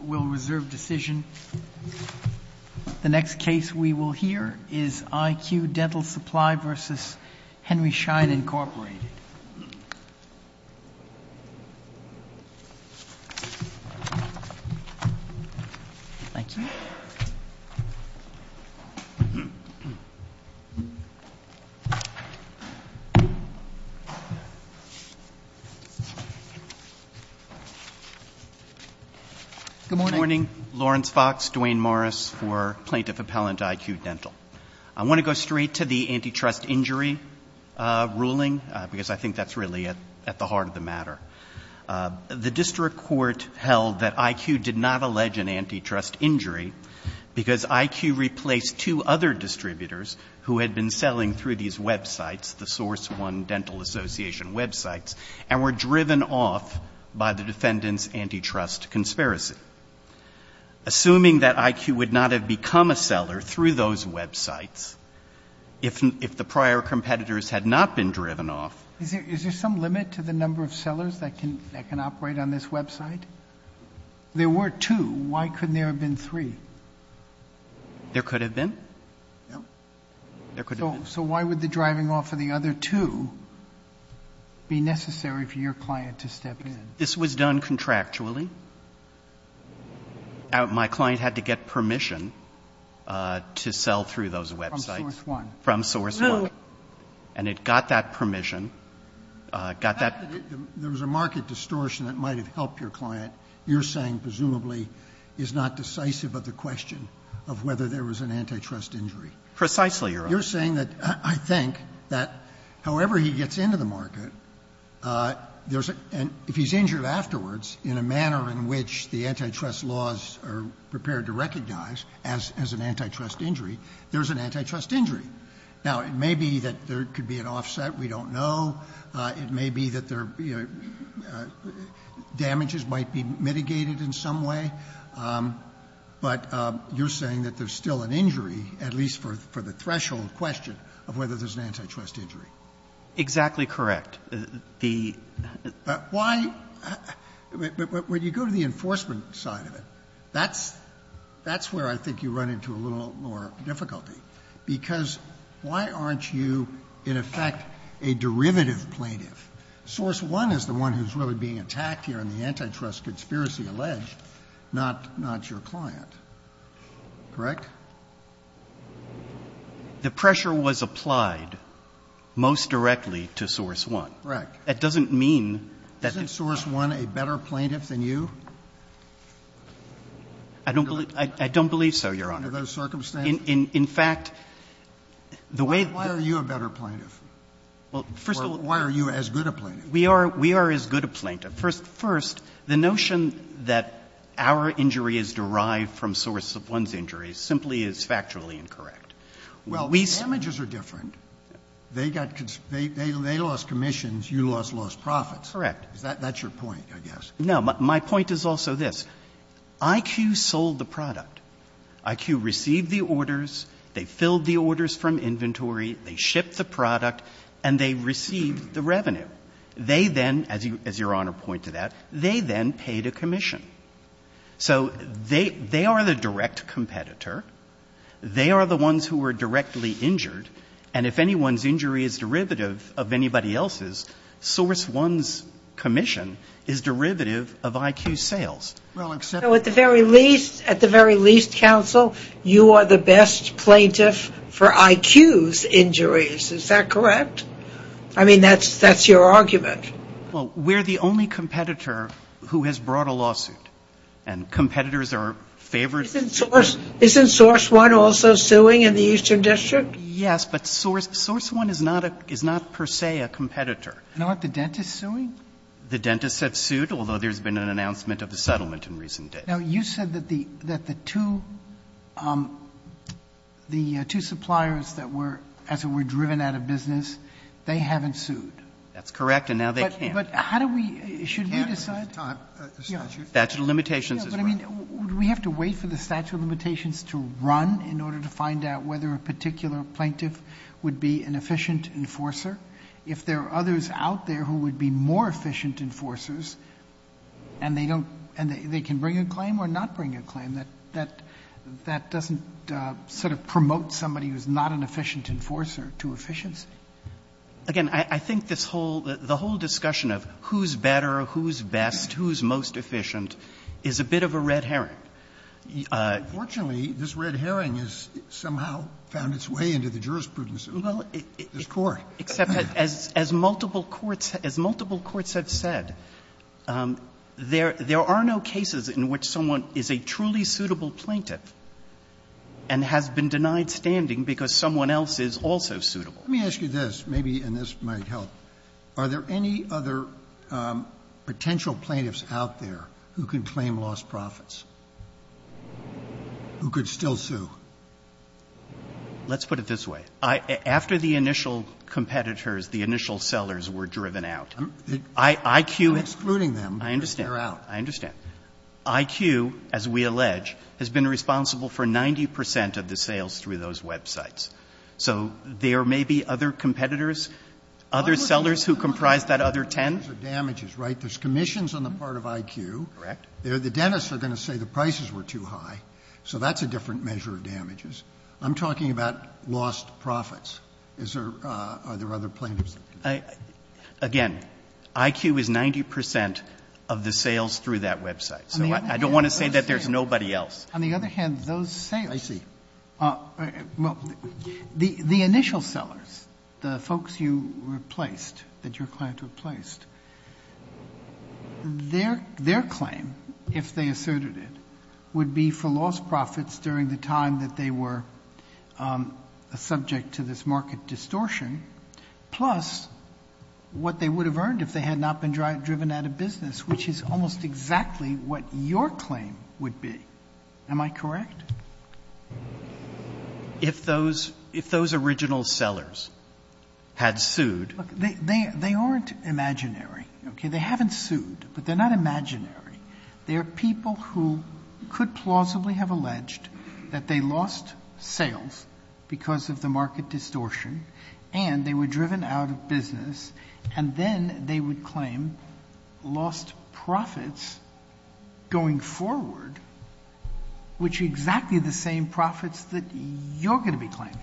The next case we will hear is IQ Dental Supply v. Henry Schein, Inc. Good morning, Lawrence Fox, Duane Morris for Plaintiff Appellant IQ Dental. I want to go straight to the antitrust injury ruling, because I think that's really at the heart of the matter. The district court held that IQ did not allege an antitrust injury because IQ replaced two other distributors who had been selling through these websites, the Source One Dental Association websites, and were driven off by the defendant's antitrust conspiracy. Assuming that IQ would not have become a seller through those websites, if the prior competitors had not been driven off... Is there some limit to the number of sellers that can operate on this website? There were two. Why couldn't there have been three? There could have been. So why would the driving off of the other two be necessary for your client to step in? This was done contractually. My client had to get permission to sell through those websites. From Source One. From Source One. And it got that permission, got that... There was a market distortion that might have helped your client. Your saying, presumably, is not decisive of the question of whether there was an antitrust injury. Precisely, Your Honor. You're saying that, I think, that however he gets into the market, there's a — and if he's injured afterwards in a manner in which the antitrust laws are prepared to recognize as an antitrust injury, there's an antitrust injury. Now, it may be that there could be an offset. We don't know. It may be that damages might be mitigated in some way. But you're saying that there's still an injury, at least for the threshold question, of whether there's an antitrust injury. Exactly correct. Why — when you go to the enforcement side of it, that's where I think you run into a little more difficulty. Because why aren't you, in effect, a derivative plaintiff? Source One is the one who's really being attacked here in the antitrust conspiracy alleged, not your client. Correct? The pressure was applied most directly to Source One. Correct. That doesn't mean that... Isn't Source One a better plaintiff than you? I don't believe so, Your Honor. Under those circumstances? In fact, the way... Why are you a better plaintiff? Well, first of all... Or why are you as good a plaintiff? We are as good a plaintiff. First, the notion that our injury is derived from Source One's injury simply is factually incorrect. Well, the damages are different. They got — they lost commissions. You lost lost profits. Correct. That's your point, I guess. No. My point is also this. IQ sold the product. IQ received the orders. They filled the orders from inventory. They shipped the product. And they received the revenue. They then, as Your Honor pointed out, they then paid a commission. So they are the direct competitor. They are the ones who are directly injured. And if anyone's injury is derivative of anybody else's, Source One's commission is derivative of IQ's sales. Well, except... So at the very least, at the very least, counsel, you are the best plaintiff for IQ's injuries. Is that correct? I mean, that's your argument. Well, we're the only competitor who has brought a lawsuit. And competitors are favored... Isn't Source One also suing in the Eastern District? Yes, but Source One is not per se a competitor. No, aren't the dentists suing? The dentists have sued, although there's been an announcement of a settlement in recent days. Now, you said that the two suppliers that were, as it were, driven out of business, they haven't sued. That's correct. And now they can't. But how do we, should we decide? Statute of limitations as well. But, I mean, do we have to wait for the statute of limitations to run in order to find out whether a particular plaintiff would be an efficient enforcer? If there are others out there who would be more efficient enforcers and they don't and they can bring a claim or not bring a claim, that doesn't sort of promote somebody who's not an efficient enforcer to efficiency. Again, I think this whole, the whole discussion of who's better, who's best, who's most efficient is a bit of a red herring. Unfortunately, this red herring has somehow found its way into the jurisprudence of this Court. Except as multiple courts, as multiple courts have said, there are no cases in which someone is a truly suitable plaintiff and has been denied standing because someone else is also suitable. Let me ask you this, maybe, and this might help. Are there any other potential plaintiffs out there who can claim lost profits, who could still sue? Let's put it this way. After the initial competitors, the initial sellers were driven out. IQ. I'm excluding them. I understand. They're out. I understand. IQ, as we allege, has been responsible for 90 percent of the sales through those websites. So there may be other competitors, other sellers who comprise that other 10? There's commissions on the part of IQ. Correct. The dentists are going to say the prices were too high, so that's a different measure of damages. I'm talking about lost profits. Are there other plaintiffs? Again, IQ is 90 percent of the sales through that website. So I don't want to say that there's nobody else. On the other hand, those sales. I see. Well, the initial sellers, the folks you replaced, that your client replaced, their claim, if they asserted it, would be for lost profits during the time that they were a subject to this market distortion, plus what they would have earned if they had not been driven out of business, which is almost exactly what your claim would be. Am I correct? If those original sellers had sued. They aren't imaginary. Okay? They haven't sued, but they're not imaginary. They're people who could plausibly have alleged that they lost sales because of the market distortion, and they were driven out of business, and then they would claim lost profits going forward, which are exactly the same profits that you're going to be claiming.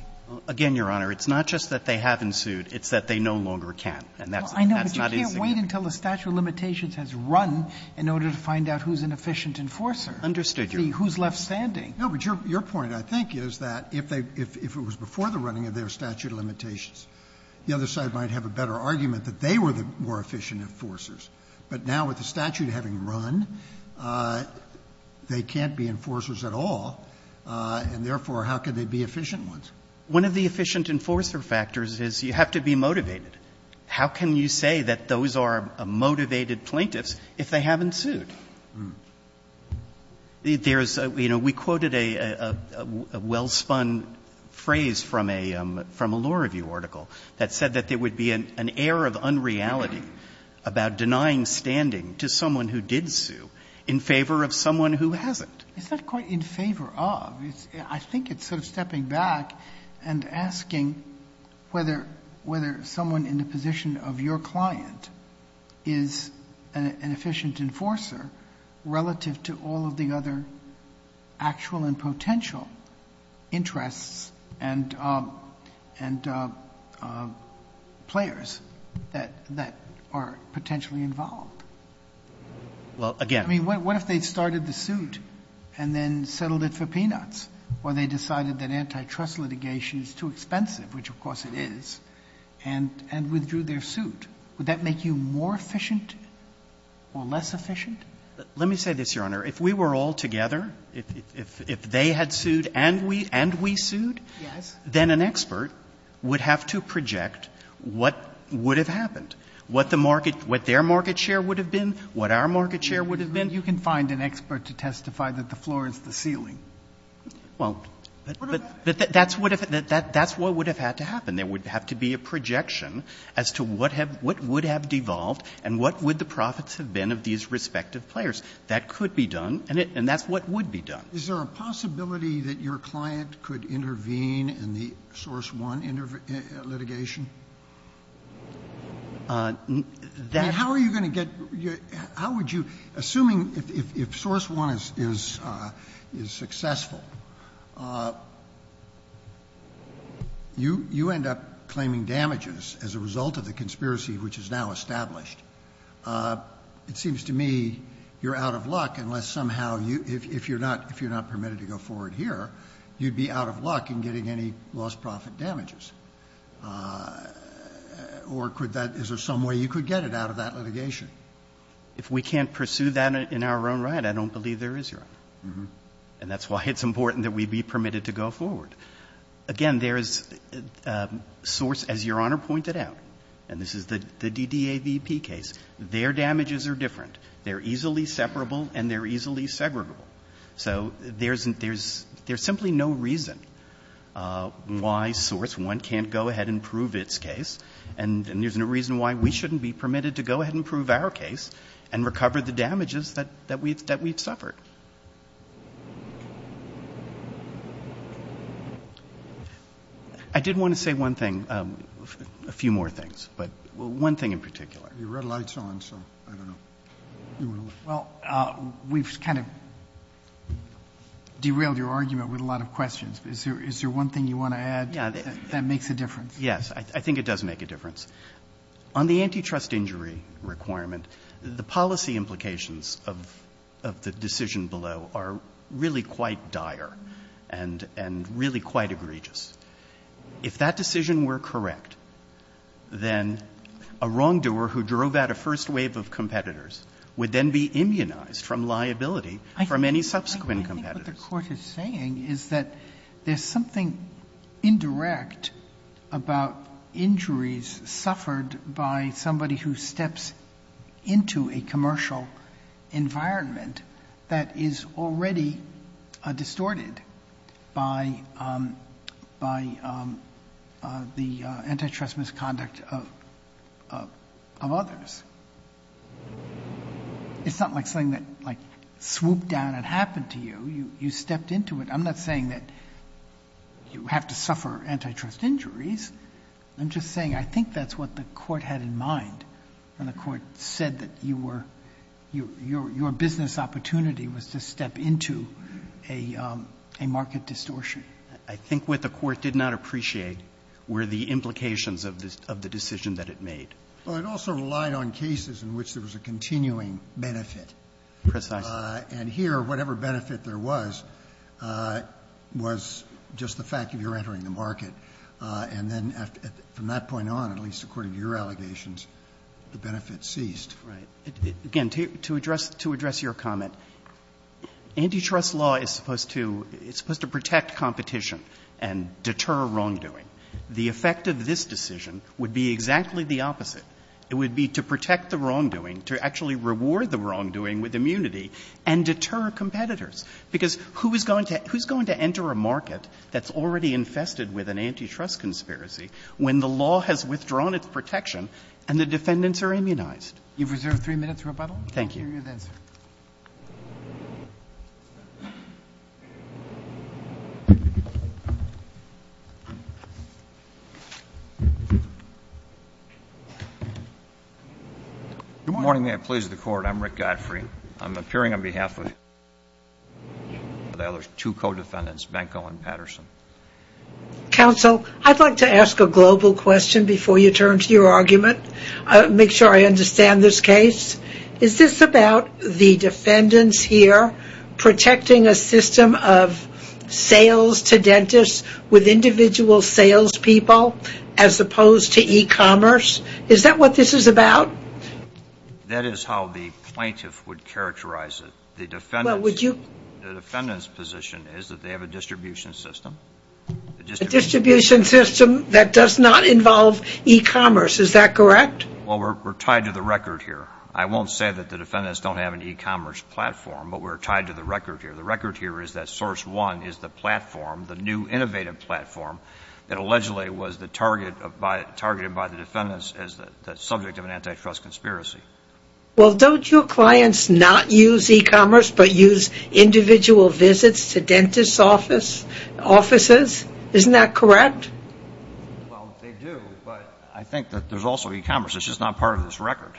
Again, Your Honor, it's not just that they haven't sued. It's that they no longer can. And that's not insignificant. Wait until the statute of limitations has run in order to find out who's an efficient enforcer. Understood, Your Honor. Who's left standing. No, but your point, I think, is that if it was before the running of their statute of limitations, the other side might have a better argument that they were the more efficient enforcers. But now with the statute having run, they can't be enforcers at all, and therefore how can they be efficient ones? One of the efficient enforcer factors is you have to be motivated. How can you say that those are motivated plaintiffs if they haven't sued? There's a, you know, we quoted a well-spun phrase from a law review article that said that there would be an air of unreality about denying standing to someone who did sue in favor of someone who hasn't. It's not quite in favor of. I think it's sort of stepping back and asking whether someone in the position of your client is an efficient enforcer relative to all of the other actual and potential interests and players that are potentially involved. Well, again. I mean, what if they started the suit and then settled it for peanuts, or they decided that antitrust litigation is too expensive, which, of course, it is, and withdrew their suit? Would that make you more efficient or less efficient? Let me say this, Your Honor. If we were all together, if they had sued and we sued, then an expert would have to project what would have happened, what their market share would have been, what our market share would have been. You can find an expert to testify that the floor is the ceiling. Well, but that's what would have had to happen. There would have to be a projection as to what would have devolved and what would the profits have been of these respective players. That could be done, and that's what would be done. Is there a possibility that your client could intervene in the source one litigation? How are you going to get your – how would you – assuming if source one is successful, you end up claiming damages as a result of the conspiracy which is now established. It seems to me you're out of luck unless somehow you – if you're not permitted to go forward here, you'd be out of luck in getting any lost profit damages. Or could that – is there some way you could get it out of that litigation? If we can't pursue that in our own right, I don't believe there is, Your Honor. And that's why it's important that we be permitted to go forward. Again, there is – source, as Your Honor pointed out, and this is the DDAVP case, their damages are different. They're easily separable and they're easily segregable. So there's simply no reason why source one can't go ahead and prove its case, and there's no reason why we shouldn't be permitted to go ahead and prove our case and recover the damages that we've suffered. I did want to say one thing – a few more things, but one thing in particular. The red light's on, so I don't know. Well, we've kind of derailed your argument with a lot of questions. Is there one thing you want to add that makes a difference? Yes. I think it does make a difference. On the antitrust injury requirement, the policy implications of the decision below are really quite dire and really quite egregious. If that decision were correct, then a wrongdoer who drove out a first wave of competitors would then be immunized from liability from any subsequent competitors. I think what the Court is saying is that there's something indirect about injuries suffered by somebody who steps into a commercial environment that is already distorted by the antitrust misconduct of others. It's not like something that swooped down and happened to you. You stepped into it. I'm not saying that you have to suffer antitrust injuries. I'm just saying I think that's what the Court had in mind when the Court said that your business opportunity was to step into a market distortion. I think what the Court did not appreciate were the implications of the decision that it made. Well, it also relied on cases in which there was a continuing benefit. Precisely. And here, whatever benefit there was, was just the fact that you're entering the market. And then from that point on, at least according to your allegations, the benefit ceased. Right. Again, to address your comment, antitrust law is supposed to protect competition and deter wrongdoing. The effect of this decision would be exactly the opposite. It would be to protect the wrongdoing, to actually reward the wrongdoing with immunity and deter competitors. Because who is going to enter a market that's already infested with an antitrust conspiracy when the law has withdrawn its protection and the defendants are immunized? You've reserved three minutes, Rebuttal. Thank you. Thank you for your good answer. Good morning. May it please the Court. I'm Rick Godfrey. I'm appearing on behalf of the other two co-defendants, Benko and Patterson. Counsel, I'd like to ask a global question before you turn to your argument. Make sure I understand this case. Is this about the defendants here protecting a system of sales to dentists with individual salespeople as opposed to e-commerce? Is that what this is about? That is how the plaintiff would characterize it. The defendant's position is that they have a distribution system. A distribution system that does not involve e-commerce. Is that correct? Well, we're tied to the record here. I won't say that the defendants don't have an e-commerce platform, but we're tied to the record here. The record here is that Source One is the platform, the new innovative platform, that allegedly was targeted by the defendants as the subject of an antitrust conspiracy. Well, don't your clients not use e-commerce, but use individual visits to dentist offices? Isn't that correct? Well, they do, but I think that there's also e-commerce. It's just not part of this record.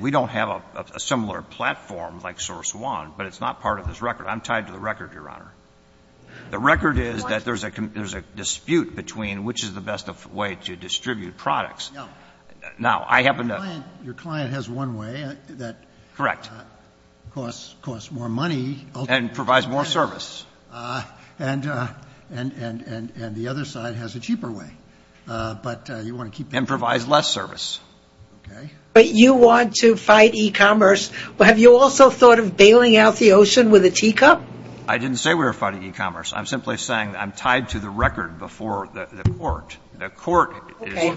We don't have a similar platform like Source One, but it's not part of this record. I'm tied to the record, Your Honor. The record is that there's a dispute between which is the best way to distribute products. Now, I happen to. Your client has one way that. Correct. Costs more money. And provides more service. And the other side has a cheaper way, but you want to keep. And provides less service. Okay. But you want to fight e-commerce. Have you also thought of bailing out the ocean with a teacup? I didn't say we were fighting e-commerce. I'm simply saying I'm tied to the record before the court. The court is. Okay.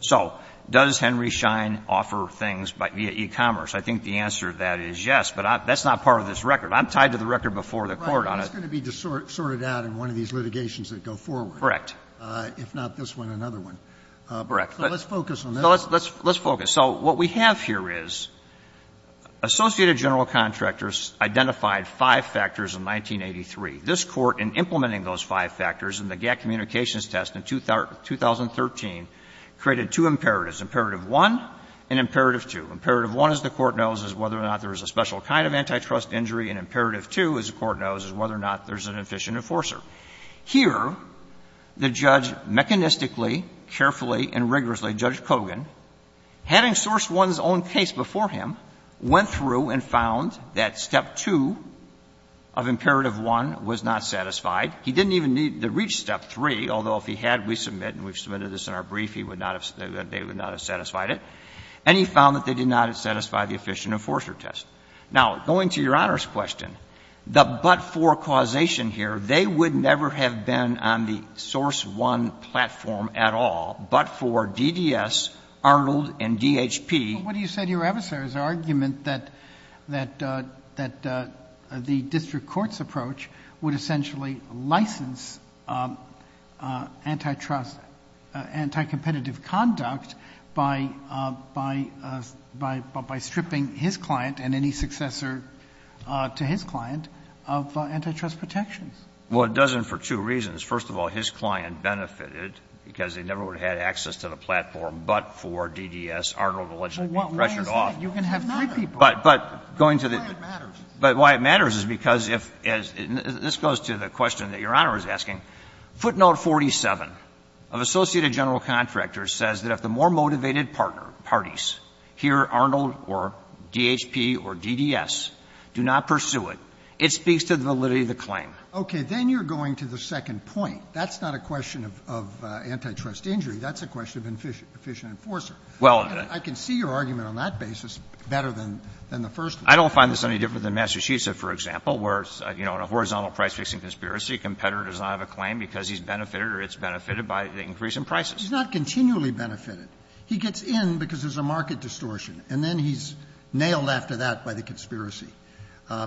So does Henry Schein offer things via e-commerce? I think the answer to that is yes, but that's not part of this record. I'm tied to the record before the court on it. Right. It's going to be sorted out in one of these litigations that go forward. Correct. If not this one, another one. Correct. So let's focus on this one. So let's focus. So what we have here is Associated General Contractors identified five factors in 1983. This Court, in implementing those five factors in the GATT communications test in 2013, created two imperatives. Imperative 1 and imperative 2. Imperative 1, as the Court knows, is whether or not there is a special kind of antitrust injury. And imperative 2, as the Court knows, is whether or not there is an efficient enforcer. Here, the judge mechanistically, carefully, and rigorously, Judge Kogan, having sourced one's own case before him, went through and found that step 2 of imperative 1 was not satisfied. He didn't even need to reach step 3, although if he had, we submit, and we've submitted this in our brief, he would not have, they would not have satisfied it. And he found that they did not satisfy the efficient enforcer test. Now, going to Your Honor's question, the but-for causation here, they would never have been on the source 1 platform at all, but for DDS, Arnold, and DHP. But what do you say to your adversary's argument that the district court's approach would essentially license antitrust, anticompetitive conduct by stripping his client and any successor to his client of antitrust protections? Well, it doesn't for two reasons. First of all, his client benefited because they never would have had access to the platform but for DDS. Arnold allegedly pressured off. But why is that? You can have three people. But why it matters is because if, as this goes to the question that Your Honor is asking, footnote 47 of Associated General Contractors says that if the more motivated partner parties, here Arnold or DHP or DDS, do not pursue it, it speaks to the validity of the claim. Okay. Then you're going to the second point. That's not a question of antitrust injury. That's a question of efficient enforcer. Well, I can see your argument on that basis better than the first one. I don't find this any different than Massachusetts, for example, where, you know, in a horizontal price-fixing conspiracy, a competitor does not have a claim because he's benefited or it's benefited by the increase in prices. He's not continually benefited. He gets in because there's a market distortion, and then he's nailed after that by the conspiracy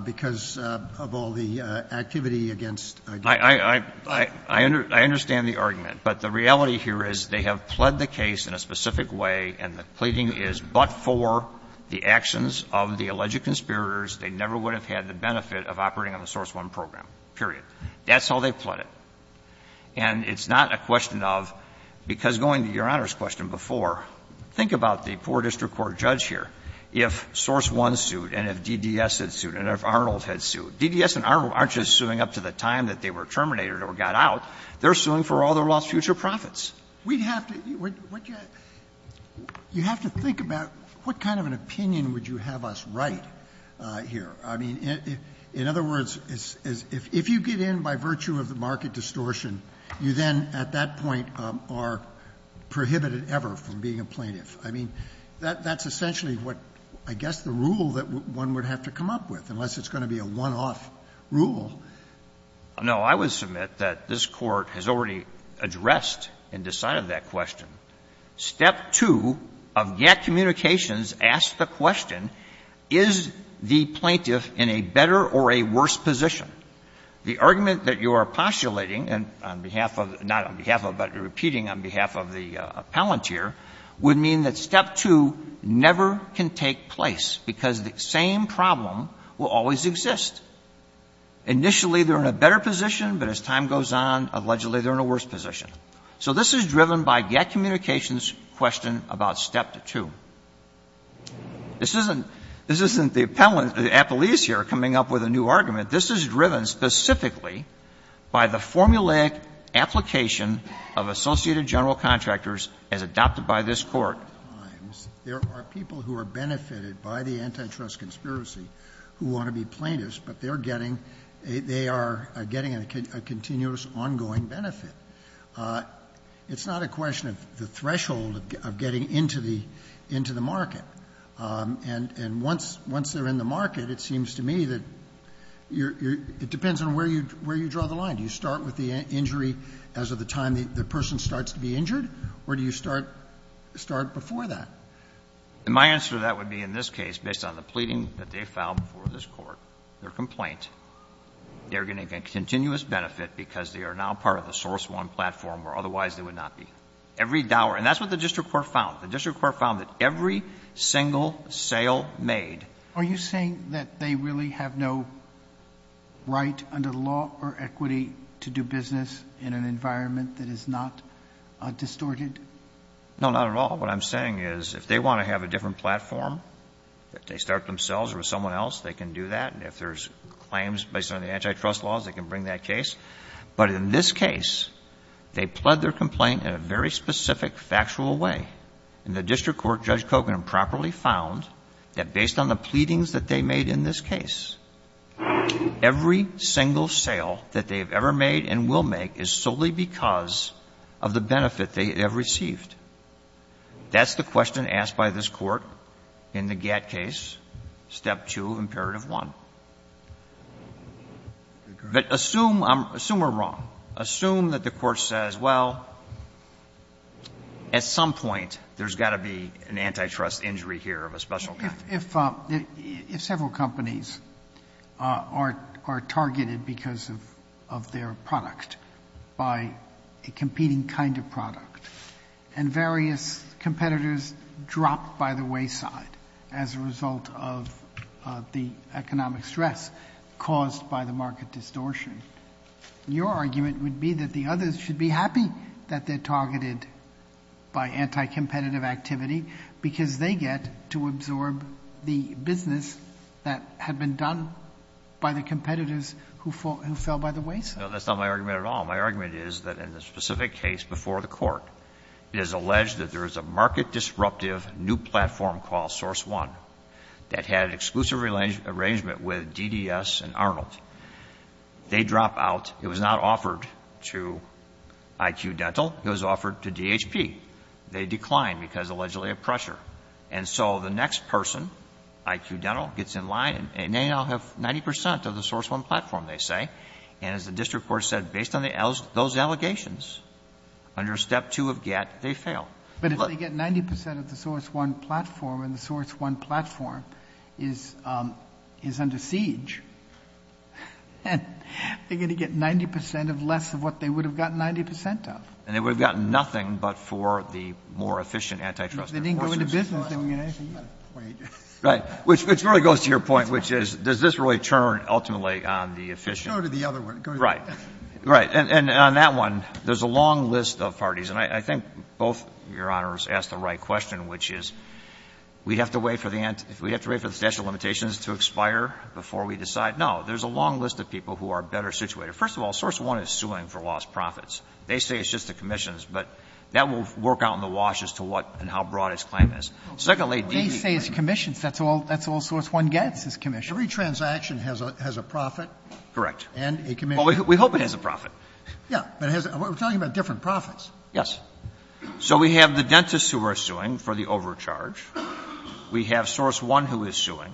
because of all the activity against DHP. I understand the argument, but the reality here is they have pled the case in a specific way, and the pleading is but for the actions of the alleged conspirators. They never would have had the benefit of operating on the Source I program, period. That's how they've pled it. And it's not a question of, because going to Your Honor's question before, think about the poor district court judge here. If Source I sued and if DDS had sued and if Arnold had sued, DDS and Arnold aren't just suing up to the time that they were terminated or got out. They're suing for all their lost future profits. We'd have to you have to think about what kind of an opinion would you have us write here. I mean, in other words, if you get in by virtue of the market distortion, you then at that point are prohibited ever from being a plaintiff. I mean, that's essentially what, I guess, the rule that one would have to come up with, unless it's going to be a one-off rule. No, I would submit that this Court has already addressed and decided that question. Step two of GATT communications asks the question, is the plaintiff in a better or a worse position? The argument that you are postulating, and on behalf of, not on behalf of, but repeating on behalf of the appellant here, would mean that step two never can take place, because the same problem will always exist. Initially, they're in a better position, but as time goes on, allegedly they're in a worse position. So this is driven by GATT communications' question about step two. This isn't the appellant, the appellees here, coming up with a new argument. This is driven specifically by the formulaic application of associated general contractors as adopted by this Court. There are people who are benefited by the antitrust conspiracy who want to be plaintiffs, but they're getting, they are getting a continuous ongoing benefit. It's not a question of the threshold of getting into the market. And once they're in the market, it seems to me that it depends on where you draw the line. Do you start with the injury as of the time the person starts to be injured, or do you start before that? My answer to that would be in this case, based on the pleading that they filed before this Court, their complaint, they're going to get continuous benefit because they are now part of the source one platform where otherwise they would not be. Every dollar. And that's what the District Court found. The District Court found that every single sale made... Are you saying that they really have no right under the law or equity to do business in an environment that is not distorted? No, not at all. What I'm saying is if they want to have a different platform, if they start themselves or with someone else, they can do that. And if there's claims based on the antitrust laws, they can bring that case. But in this case, they pled their complaint in a very specific, factual way. And the District Court, Judge Kogan, properly found that based on the pleadings that they made in this case, every single sale that they have ever made and will make is solely because of the benefit they have received. That's the question asked by this Court in the GATT case, Step 2 of Imperative 1. But assume we're wrong. Assume that the Court says, well, at some point, there's got to be an antitrust injury here of a special kind. If several companies are targeted because of their product by a competing kind of product and various competitors drop by the wayside as a result of the economic stress caused by the market distortion, your argument would be that the others should be happy that they're targeted by anticompetitive activity because they get to absorb the business that had been done by the competitors who fell by the wayside. No, that's not my argument at all. My argument is that in the specific case before the Court, it is alleged that there is a market disruptive new platform called Source One that had exclusive arrangement with DDS and Arnold. They drop out. It was not offered to IQ Dental. It was offered to DHP. They declined because, allegedly, of pressure. And so the next person, IQ Dental, gets in line and they now have 90 percent of the Source One platform, they say. And as the district court said, based on those allegations, under step two of get, they fail. But if they get 90 percent of the Source One platform and the Source One platform is under siege, they're going to get 90 percent of less of what they would have gotten 90 percent of. And they would have gotten nothing but for the more efficient antitrust. If they didn't go into business, they wouldn't get anything. Right. Which really goes to your point, which is, does this really turn ultimately on the efficient? Go to the other one. Go to the other one. Right. Right. And on that one, there's a long list of parties. And I think both, Your Honors, asked the right question, which is, we have to wait for the statute of limitations to expire before we decide? No. There's a long list of people who are better situated. First of all, Source One is suing for lost profits. They say it's just the commissions, but that will work out in the wash as to what and how broad its claim is. Secondly, DDS. They say it's commissions. That's all Source One gets is commissions. Every transaction has a profit? Correct. And a commission. Well, we hope it has a profit. Yeah. But it has a – we're talking about different profits. Yes. So we have the dentists who are suing for the overcharge. We have Source One who is suing.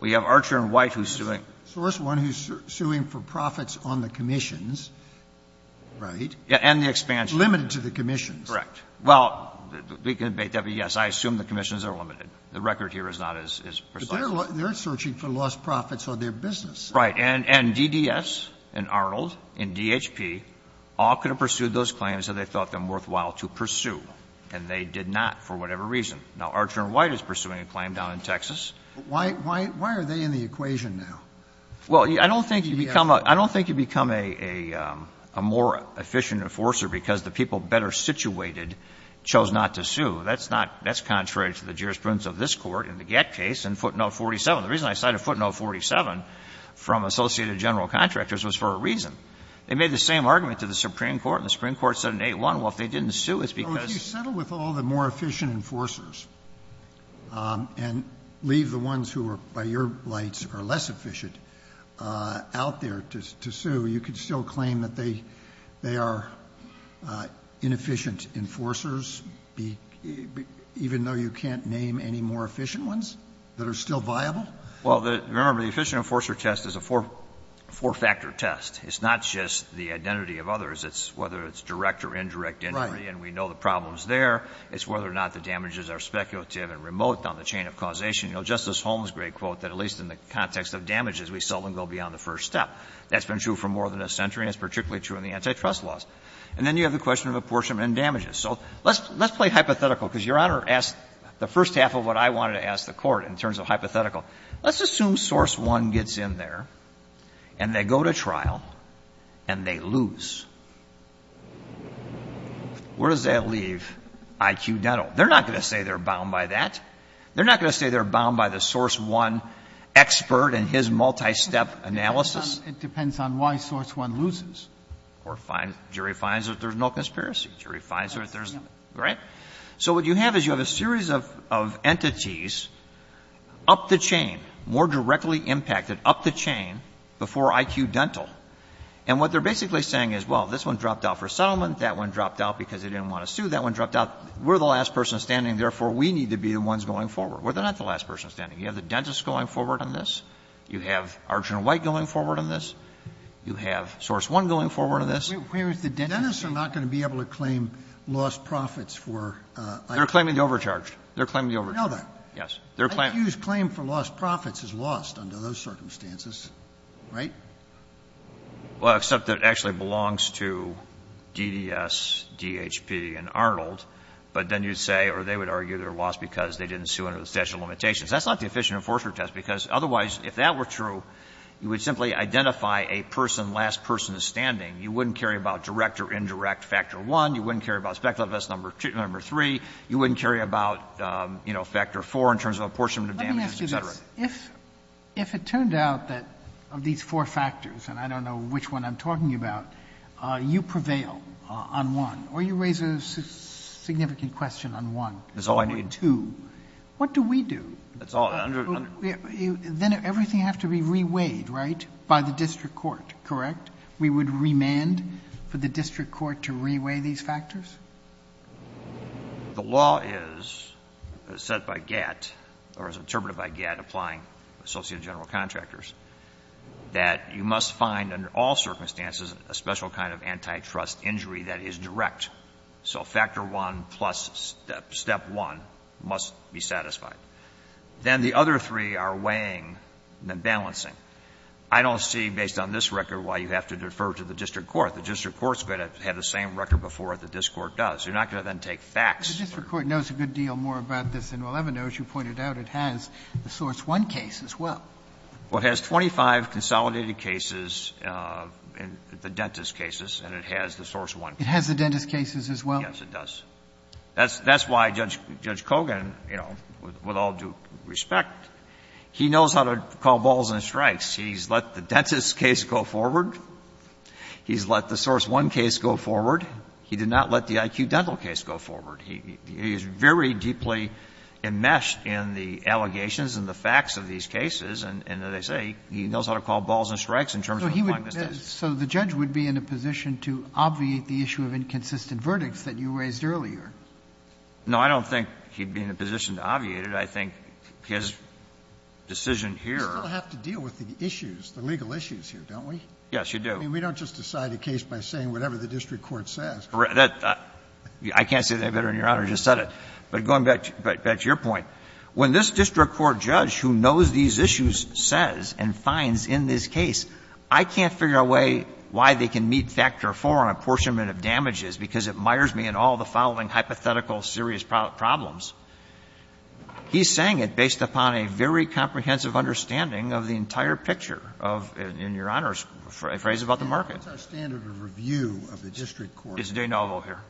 We have Archer and White who's suing. Source One who's suing for profits on the commissions, right? Yeah, and the expansion. Limited to the commissions. Correct. Well, we can debate that, but, yes, I assume the commissions are limited. The record here is not as precise. But they're searching for lost profits on their business. Right. And DDS and Arnold and DHP all could have pursued those claims that they thought them worthwhile to pursue, and they did not for whatever reason. Now, Archer and White is pursuing a claim down in Texas. But why are they in the equation now? Well, I don't think you become a more efficient enforcer because the people better situated chose not to sue. That's not – that's contrary to the jurisprudence of this Court in the Gett case in footnote 47. The reason I cited footnote 47 from Associated General Contractors was for a reason. They made the same argument to the Supreme Court, and the Supreme Court said in 8-1, well, if they didn't sue, it's because – Well, if you settle with all the more efficient enforcers and leave the ones who are, by your lights, are less efficient out there to sue, you could still claim that they are inefficient enforcers, even though you can't name any more efficient ones that are still viable? Well, remember, the efficient enforcer test is a four-factor test. It's not just the identity of others. It's whether it's direct or indirect, and we know the problems there. It's whether or not the damages are speculative and remote on the chain of causation. Justice Holmes' great quote that at least in the context of damages, we seldom go beyond the first step. That's been true for more than a century, and it's particularly true in the antitrust laws. And then you have the question of apportionment and damages. So let's play hypothetical, because Your Honor asked the first half of what I wanted to ask the Court in terms of hypothetical. Let's assume Source One gets in there, and they go to trial, and they lose. Where does that leave IQ Dental? They're not going to say they're bound by that. They're not going to say they're bound by the Source One expert and his multi-step analysis. It depends on why Source One loses. Or jury finds that there's no conspiracy. Jury finds that there's – right? So what you have is you have a series of entities up the chain, more directly impacted, up the chain before IQ Dental. And what they're basically saying is, well, this one dropped out for settlement, that one dropped out because they didn't want to sue, that one dropped out, we're the last person standing, therefore we need to be the ones going forward. Well, they're not the last person standing. You have the dentist going forward on this. You have Archer and White going forward on this. You have Source One going forward on this. Sotomayor, dentists are not going to be able to claim lost profits for IQ Dental. They're claiming the overcharged. They're claiming the overcharged. I know that. Yes. IQ's claim for lost profits is lost under those circumstances, right? Well, except that it actually belongs to DDS, DHP and Arnold, but then you'd say or they would argue they're lost because they didn't sue under the statute of limitations. That's not the efficient enforcer test, because otherwise, if that were true, you would simply identify a person, last person standing. You wouldn't care about direct or indirect factor one. You wouldn't care about speculative test number two, number three. You wouldn't care about, you know, factor four in terms of apportionment of damages, et cetera. Let me ask you this. If it turned out that of these four factors, and I don't know which one I'm talking about, you prevail on one or you raise a significant question on one or two, what do we do? That's all I need. That's all. Then everything has to be reweighed, right? By the district court, correct? We would remand for the district court to reweigh these factors? The law is, as said by Gatt, or as interpreted by Gatt, applying associate general contractors, that you must find under all circumstances a special kind of antitrust injury that is direct. So factor one plus step one must be satisfied. Then the other three are weighing and then balancing. I don't see, based on this record, why you have to defer to the district court. The district court is going to have the same record before the district court does. You're not going to then take facts. Roberts. The district court knows a good deal more about this than we'll ever know. As you pointed out, it has the source one case as well. Well, it has 25 consolidated cases, the dentist cases, and it has the source one. It has the dentist cases as well? Yes, it does. That's why Judge Kogan, you know, with all due respect, he knows how to call balls and strikes. He's let the dentist case go forward. He's let the source one case go forward. He did not let the IQ dental case go forward. He is very deeply enmeshed in the allegations and the facts of these cases, and as I say, he knows how to call balls and strikes in terms of the fine mistakes. So the judge would be in a position to obviate the issue of inconsistent verdicts that you raised earlier? No, I don't think he'd be in a position to obviate it. I think his decision here. We still have to deal with the issues, the legal issues here, don't we? Yes, you do. I mean, we don't just decide a case by saying whatever the district court says. I can't say that better than Your Honor just said it. But going back to your point, when this district court judge who knows these issues says and finds in this case, I can't figure out why they can meet Factor IV on apportionment of damages because it mires me in all the following hypothetical serious problems, he's saying it based upon a very comprehensive understanding of the entire picture of, in Your Honor's phrase about the market. And what's our standard of review of the district court? It's de novo here.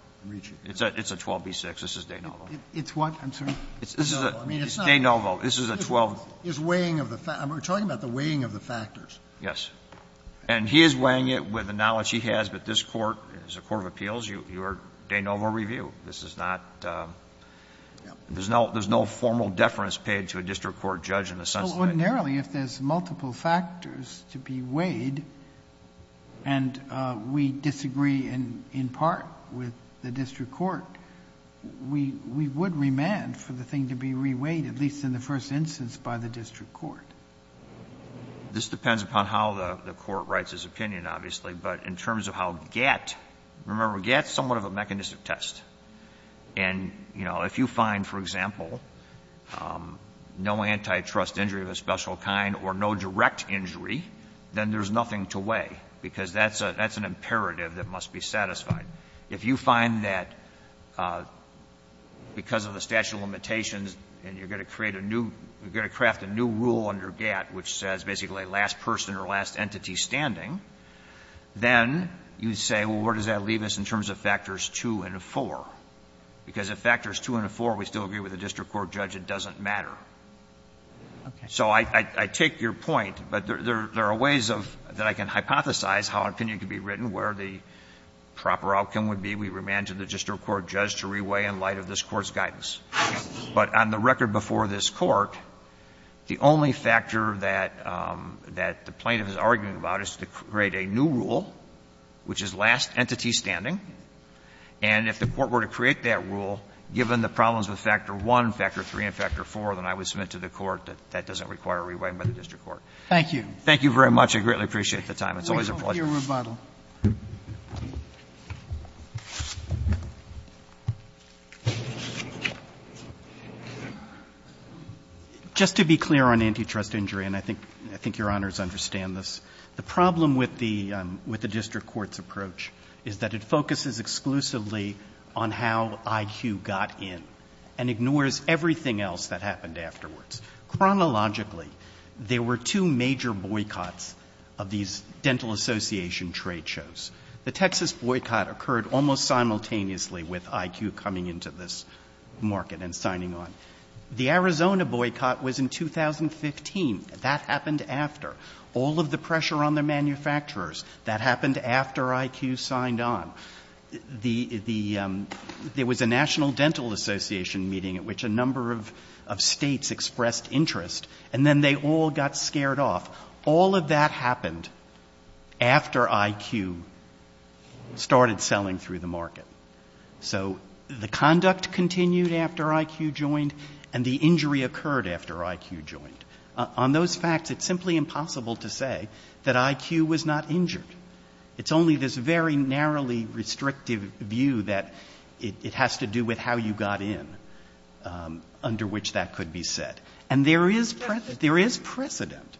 It's a 12b-6. This is de novo. It's what, I'm sorry? It's de novo. I mean, it's not. It's de novo. This is a 12. It's weighing of the factors. We're talking about the weighing of the factors. Yes. And he is weighing it with the knowledge he has, but this Court, as a court of appeals, you are de novo review. This is not, there's no formal deference paid to a district court judge in the sense that I can't. Well, ordinarily, if there's multiple factors to be weighed and we disagree in part with the district court, we would remand for the thing to be re-weighed, at least in the first instance, by the district court. This depends upon how the court writes its opinion, obviously, but in terms of how GATT, remember, GATT is somewhat of a mechanistic test, and, you know, if you find, for example, no antitrust injury of a special kind or no direct injury, then there's nothing to weigh because that's an imperative that must be satisfied. If you find that because of the statute of limitations and you're going to create a new, you're going to craft a new rule under GATT, which says basically last person or last entity standing, then you would say, well, where does that leave us in terms of factors 2 and 4? Because if factors 2 and 4, we still agree with the district court judge, it doesn't matter. So I take your point, but there are ways of, that I can hypothesize how an opinion could be written, where the proper outcome would be, we remand to the district But on the record before this Court, the only factor that the plaintiff is arguing about is to create a new rule, which is last entity standing, and if the court were to create that rule, given the problems with factor 1, factor 3, and factor 4, then I would submit to the Court that that doesn't require a reway by the district court. Thank you. Thank you very much. I greatly appreciate the time. It's always a pleasure. Thank you, Mr. Rebuttal. Just to be clear on antitrust injury, and I think your Honors understand this, the problem with the district court's approach is that it focuses exclusively on how IQ got in, and ignores everything else that happened afterwards. Chronologically, there were two major boycotts of these dental association trade shows. The Texas boycott occurred almost simultaneously with IQ coming into this market and signing on. The Arizona boycott was in 2015. That happened after. All of the pressure on the manufacturers, that happened after IQ signed on. There was a National Dental Association meeting at which a number of states expressed interest, and then they all got scared off. All of that happened after IQ started selling through the market. So the conduct continued after IQ joined, and the injury occurred after IQ joined. On those facts, it's simply impossible to say that IQ was not injured. It's only this very narrowly restrictive view that it has to do with how you got in, under which that could be said. And there is precedent.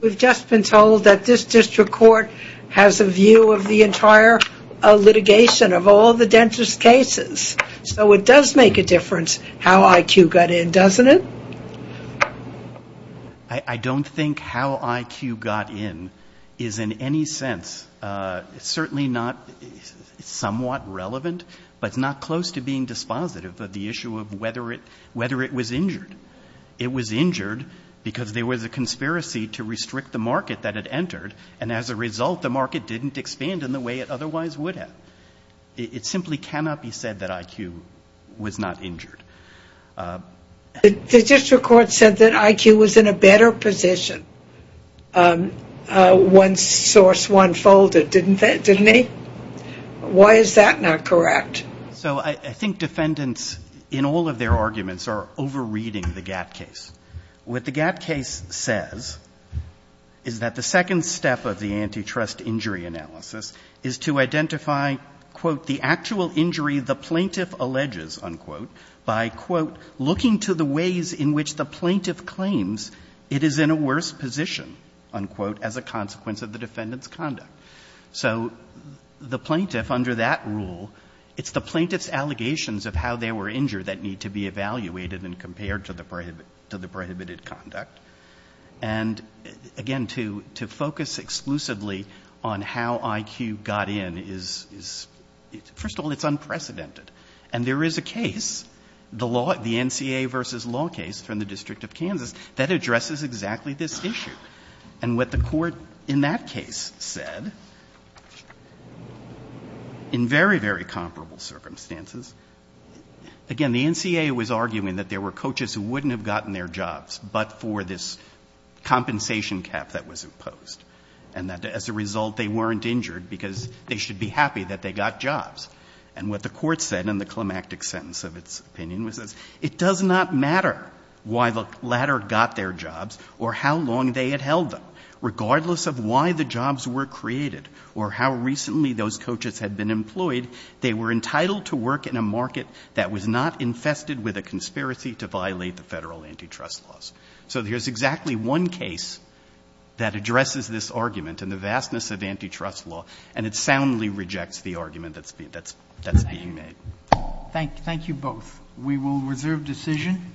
We've just been told that this district court has a view of the entire litigation of all the dentist cases. So it does make a difference how IQ got in, doesn't it? I don't think how IQ got in is in any sense, certainly not somewhat relevant, but it's not close to being dispositive of the issue of whether it was injured. It was injured because there was a conspiracy to restrict the market that it entered, and as a result, the market didn't expand in the way it otherwise would have. It simply cannot be said that IQ was not injured. The district court said that IQ was in a better position once Source One folded, didn't they? Why is that not correct? So I think defendants, in all of their arguments, are over-reading the GATT case. What the GATT case says is that the second step of the antitrust injury analysis is to identify, quote, the actual injury the plaintiff alleges, unquote, by, quote, looking to the ways in which the plaintiff claims it is in a worse position, unquote, as a consequence of the defendant's conduct. So the plaintiff, under that rule, it's the plaintiff's allegations of how they were injured that need to be evaluated and compared to the prohibited conduct. And, again, to focus exclusively on how IQ got in is, first of all, it's unprecedented. And there is a case, the NCA v. Law case from the District of Kansas, that addresses exactly this issue. And what the court in that case said, in very, very comparable circumstances, again, the NCA was arguing that there were coaches who wouldn't have gotten their jobs but for this compensation cap that was imposed, and that, as a result, they weren't injured because they should be happy that they got jobs. And what the court said in the climactic sentence of its opinion was this, it does not matter why the latter got their jobs or how long they had held them, regardless of why the jobs were created or how recently those coaches had been employed, they were entitled to work in a market that was not infested with a conspiracy to violate the federal antitrust laws. So there's exactly one case that addresses this argument and the vastness of antitrust law, and it soundly rejects the argument that's being made. Thank you both. We will reserve decision.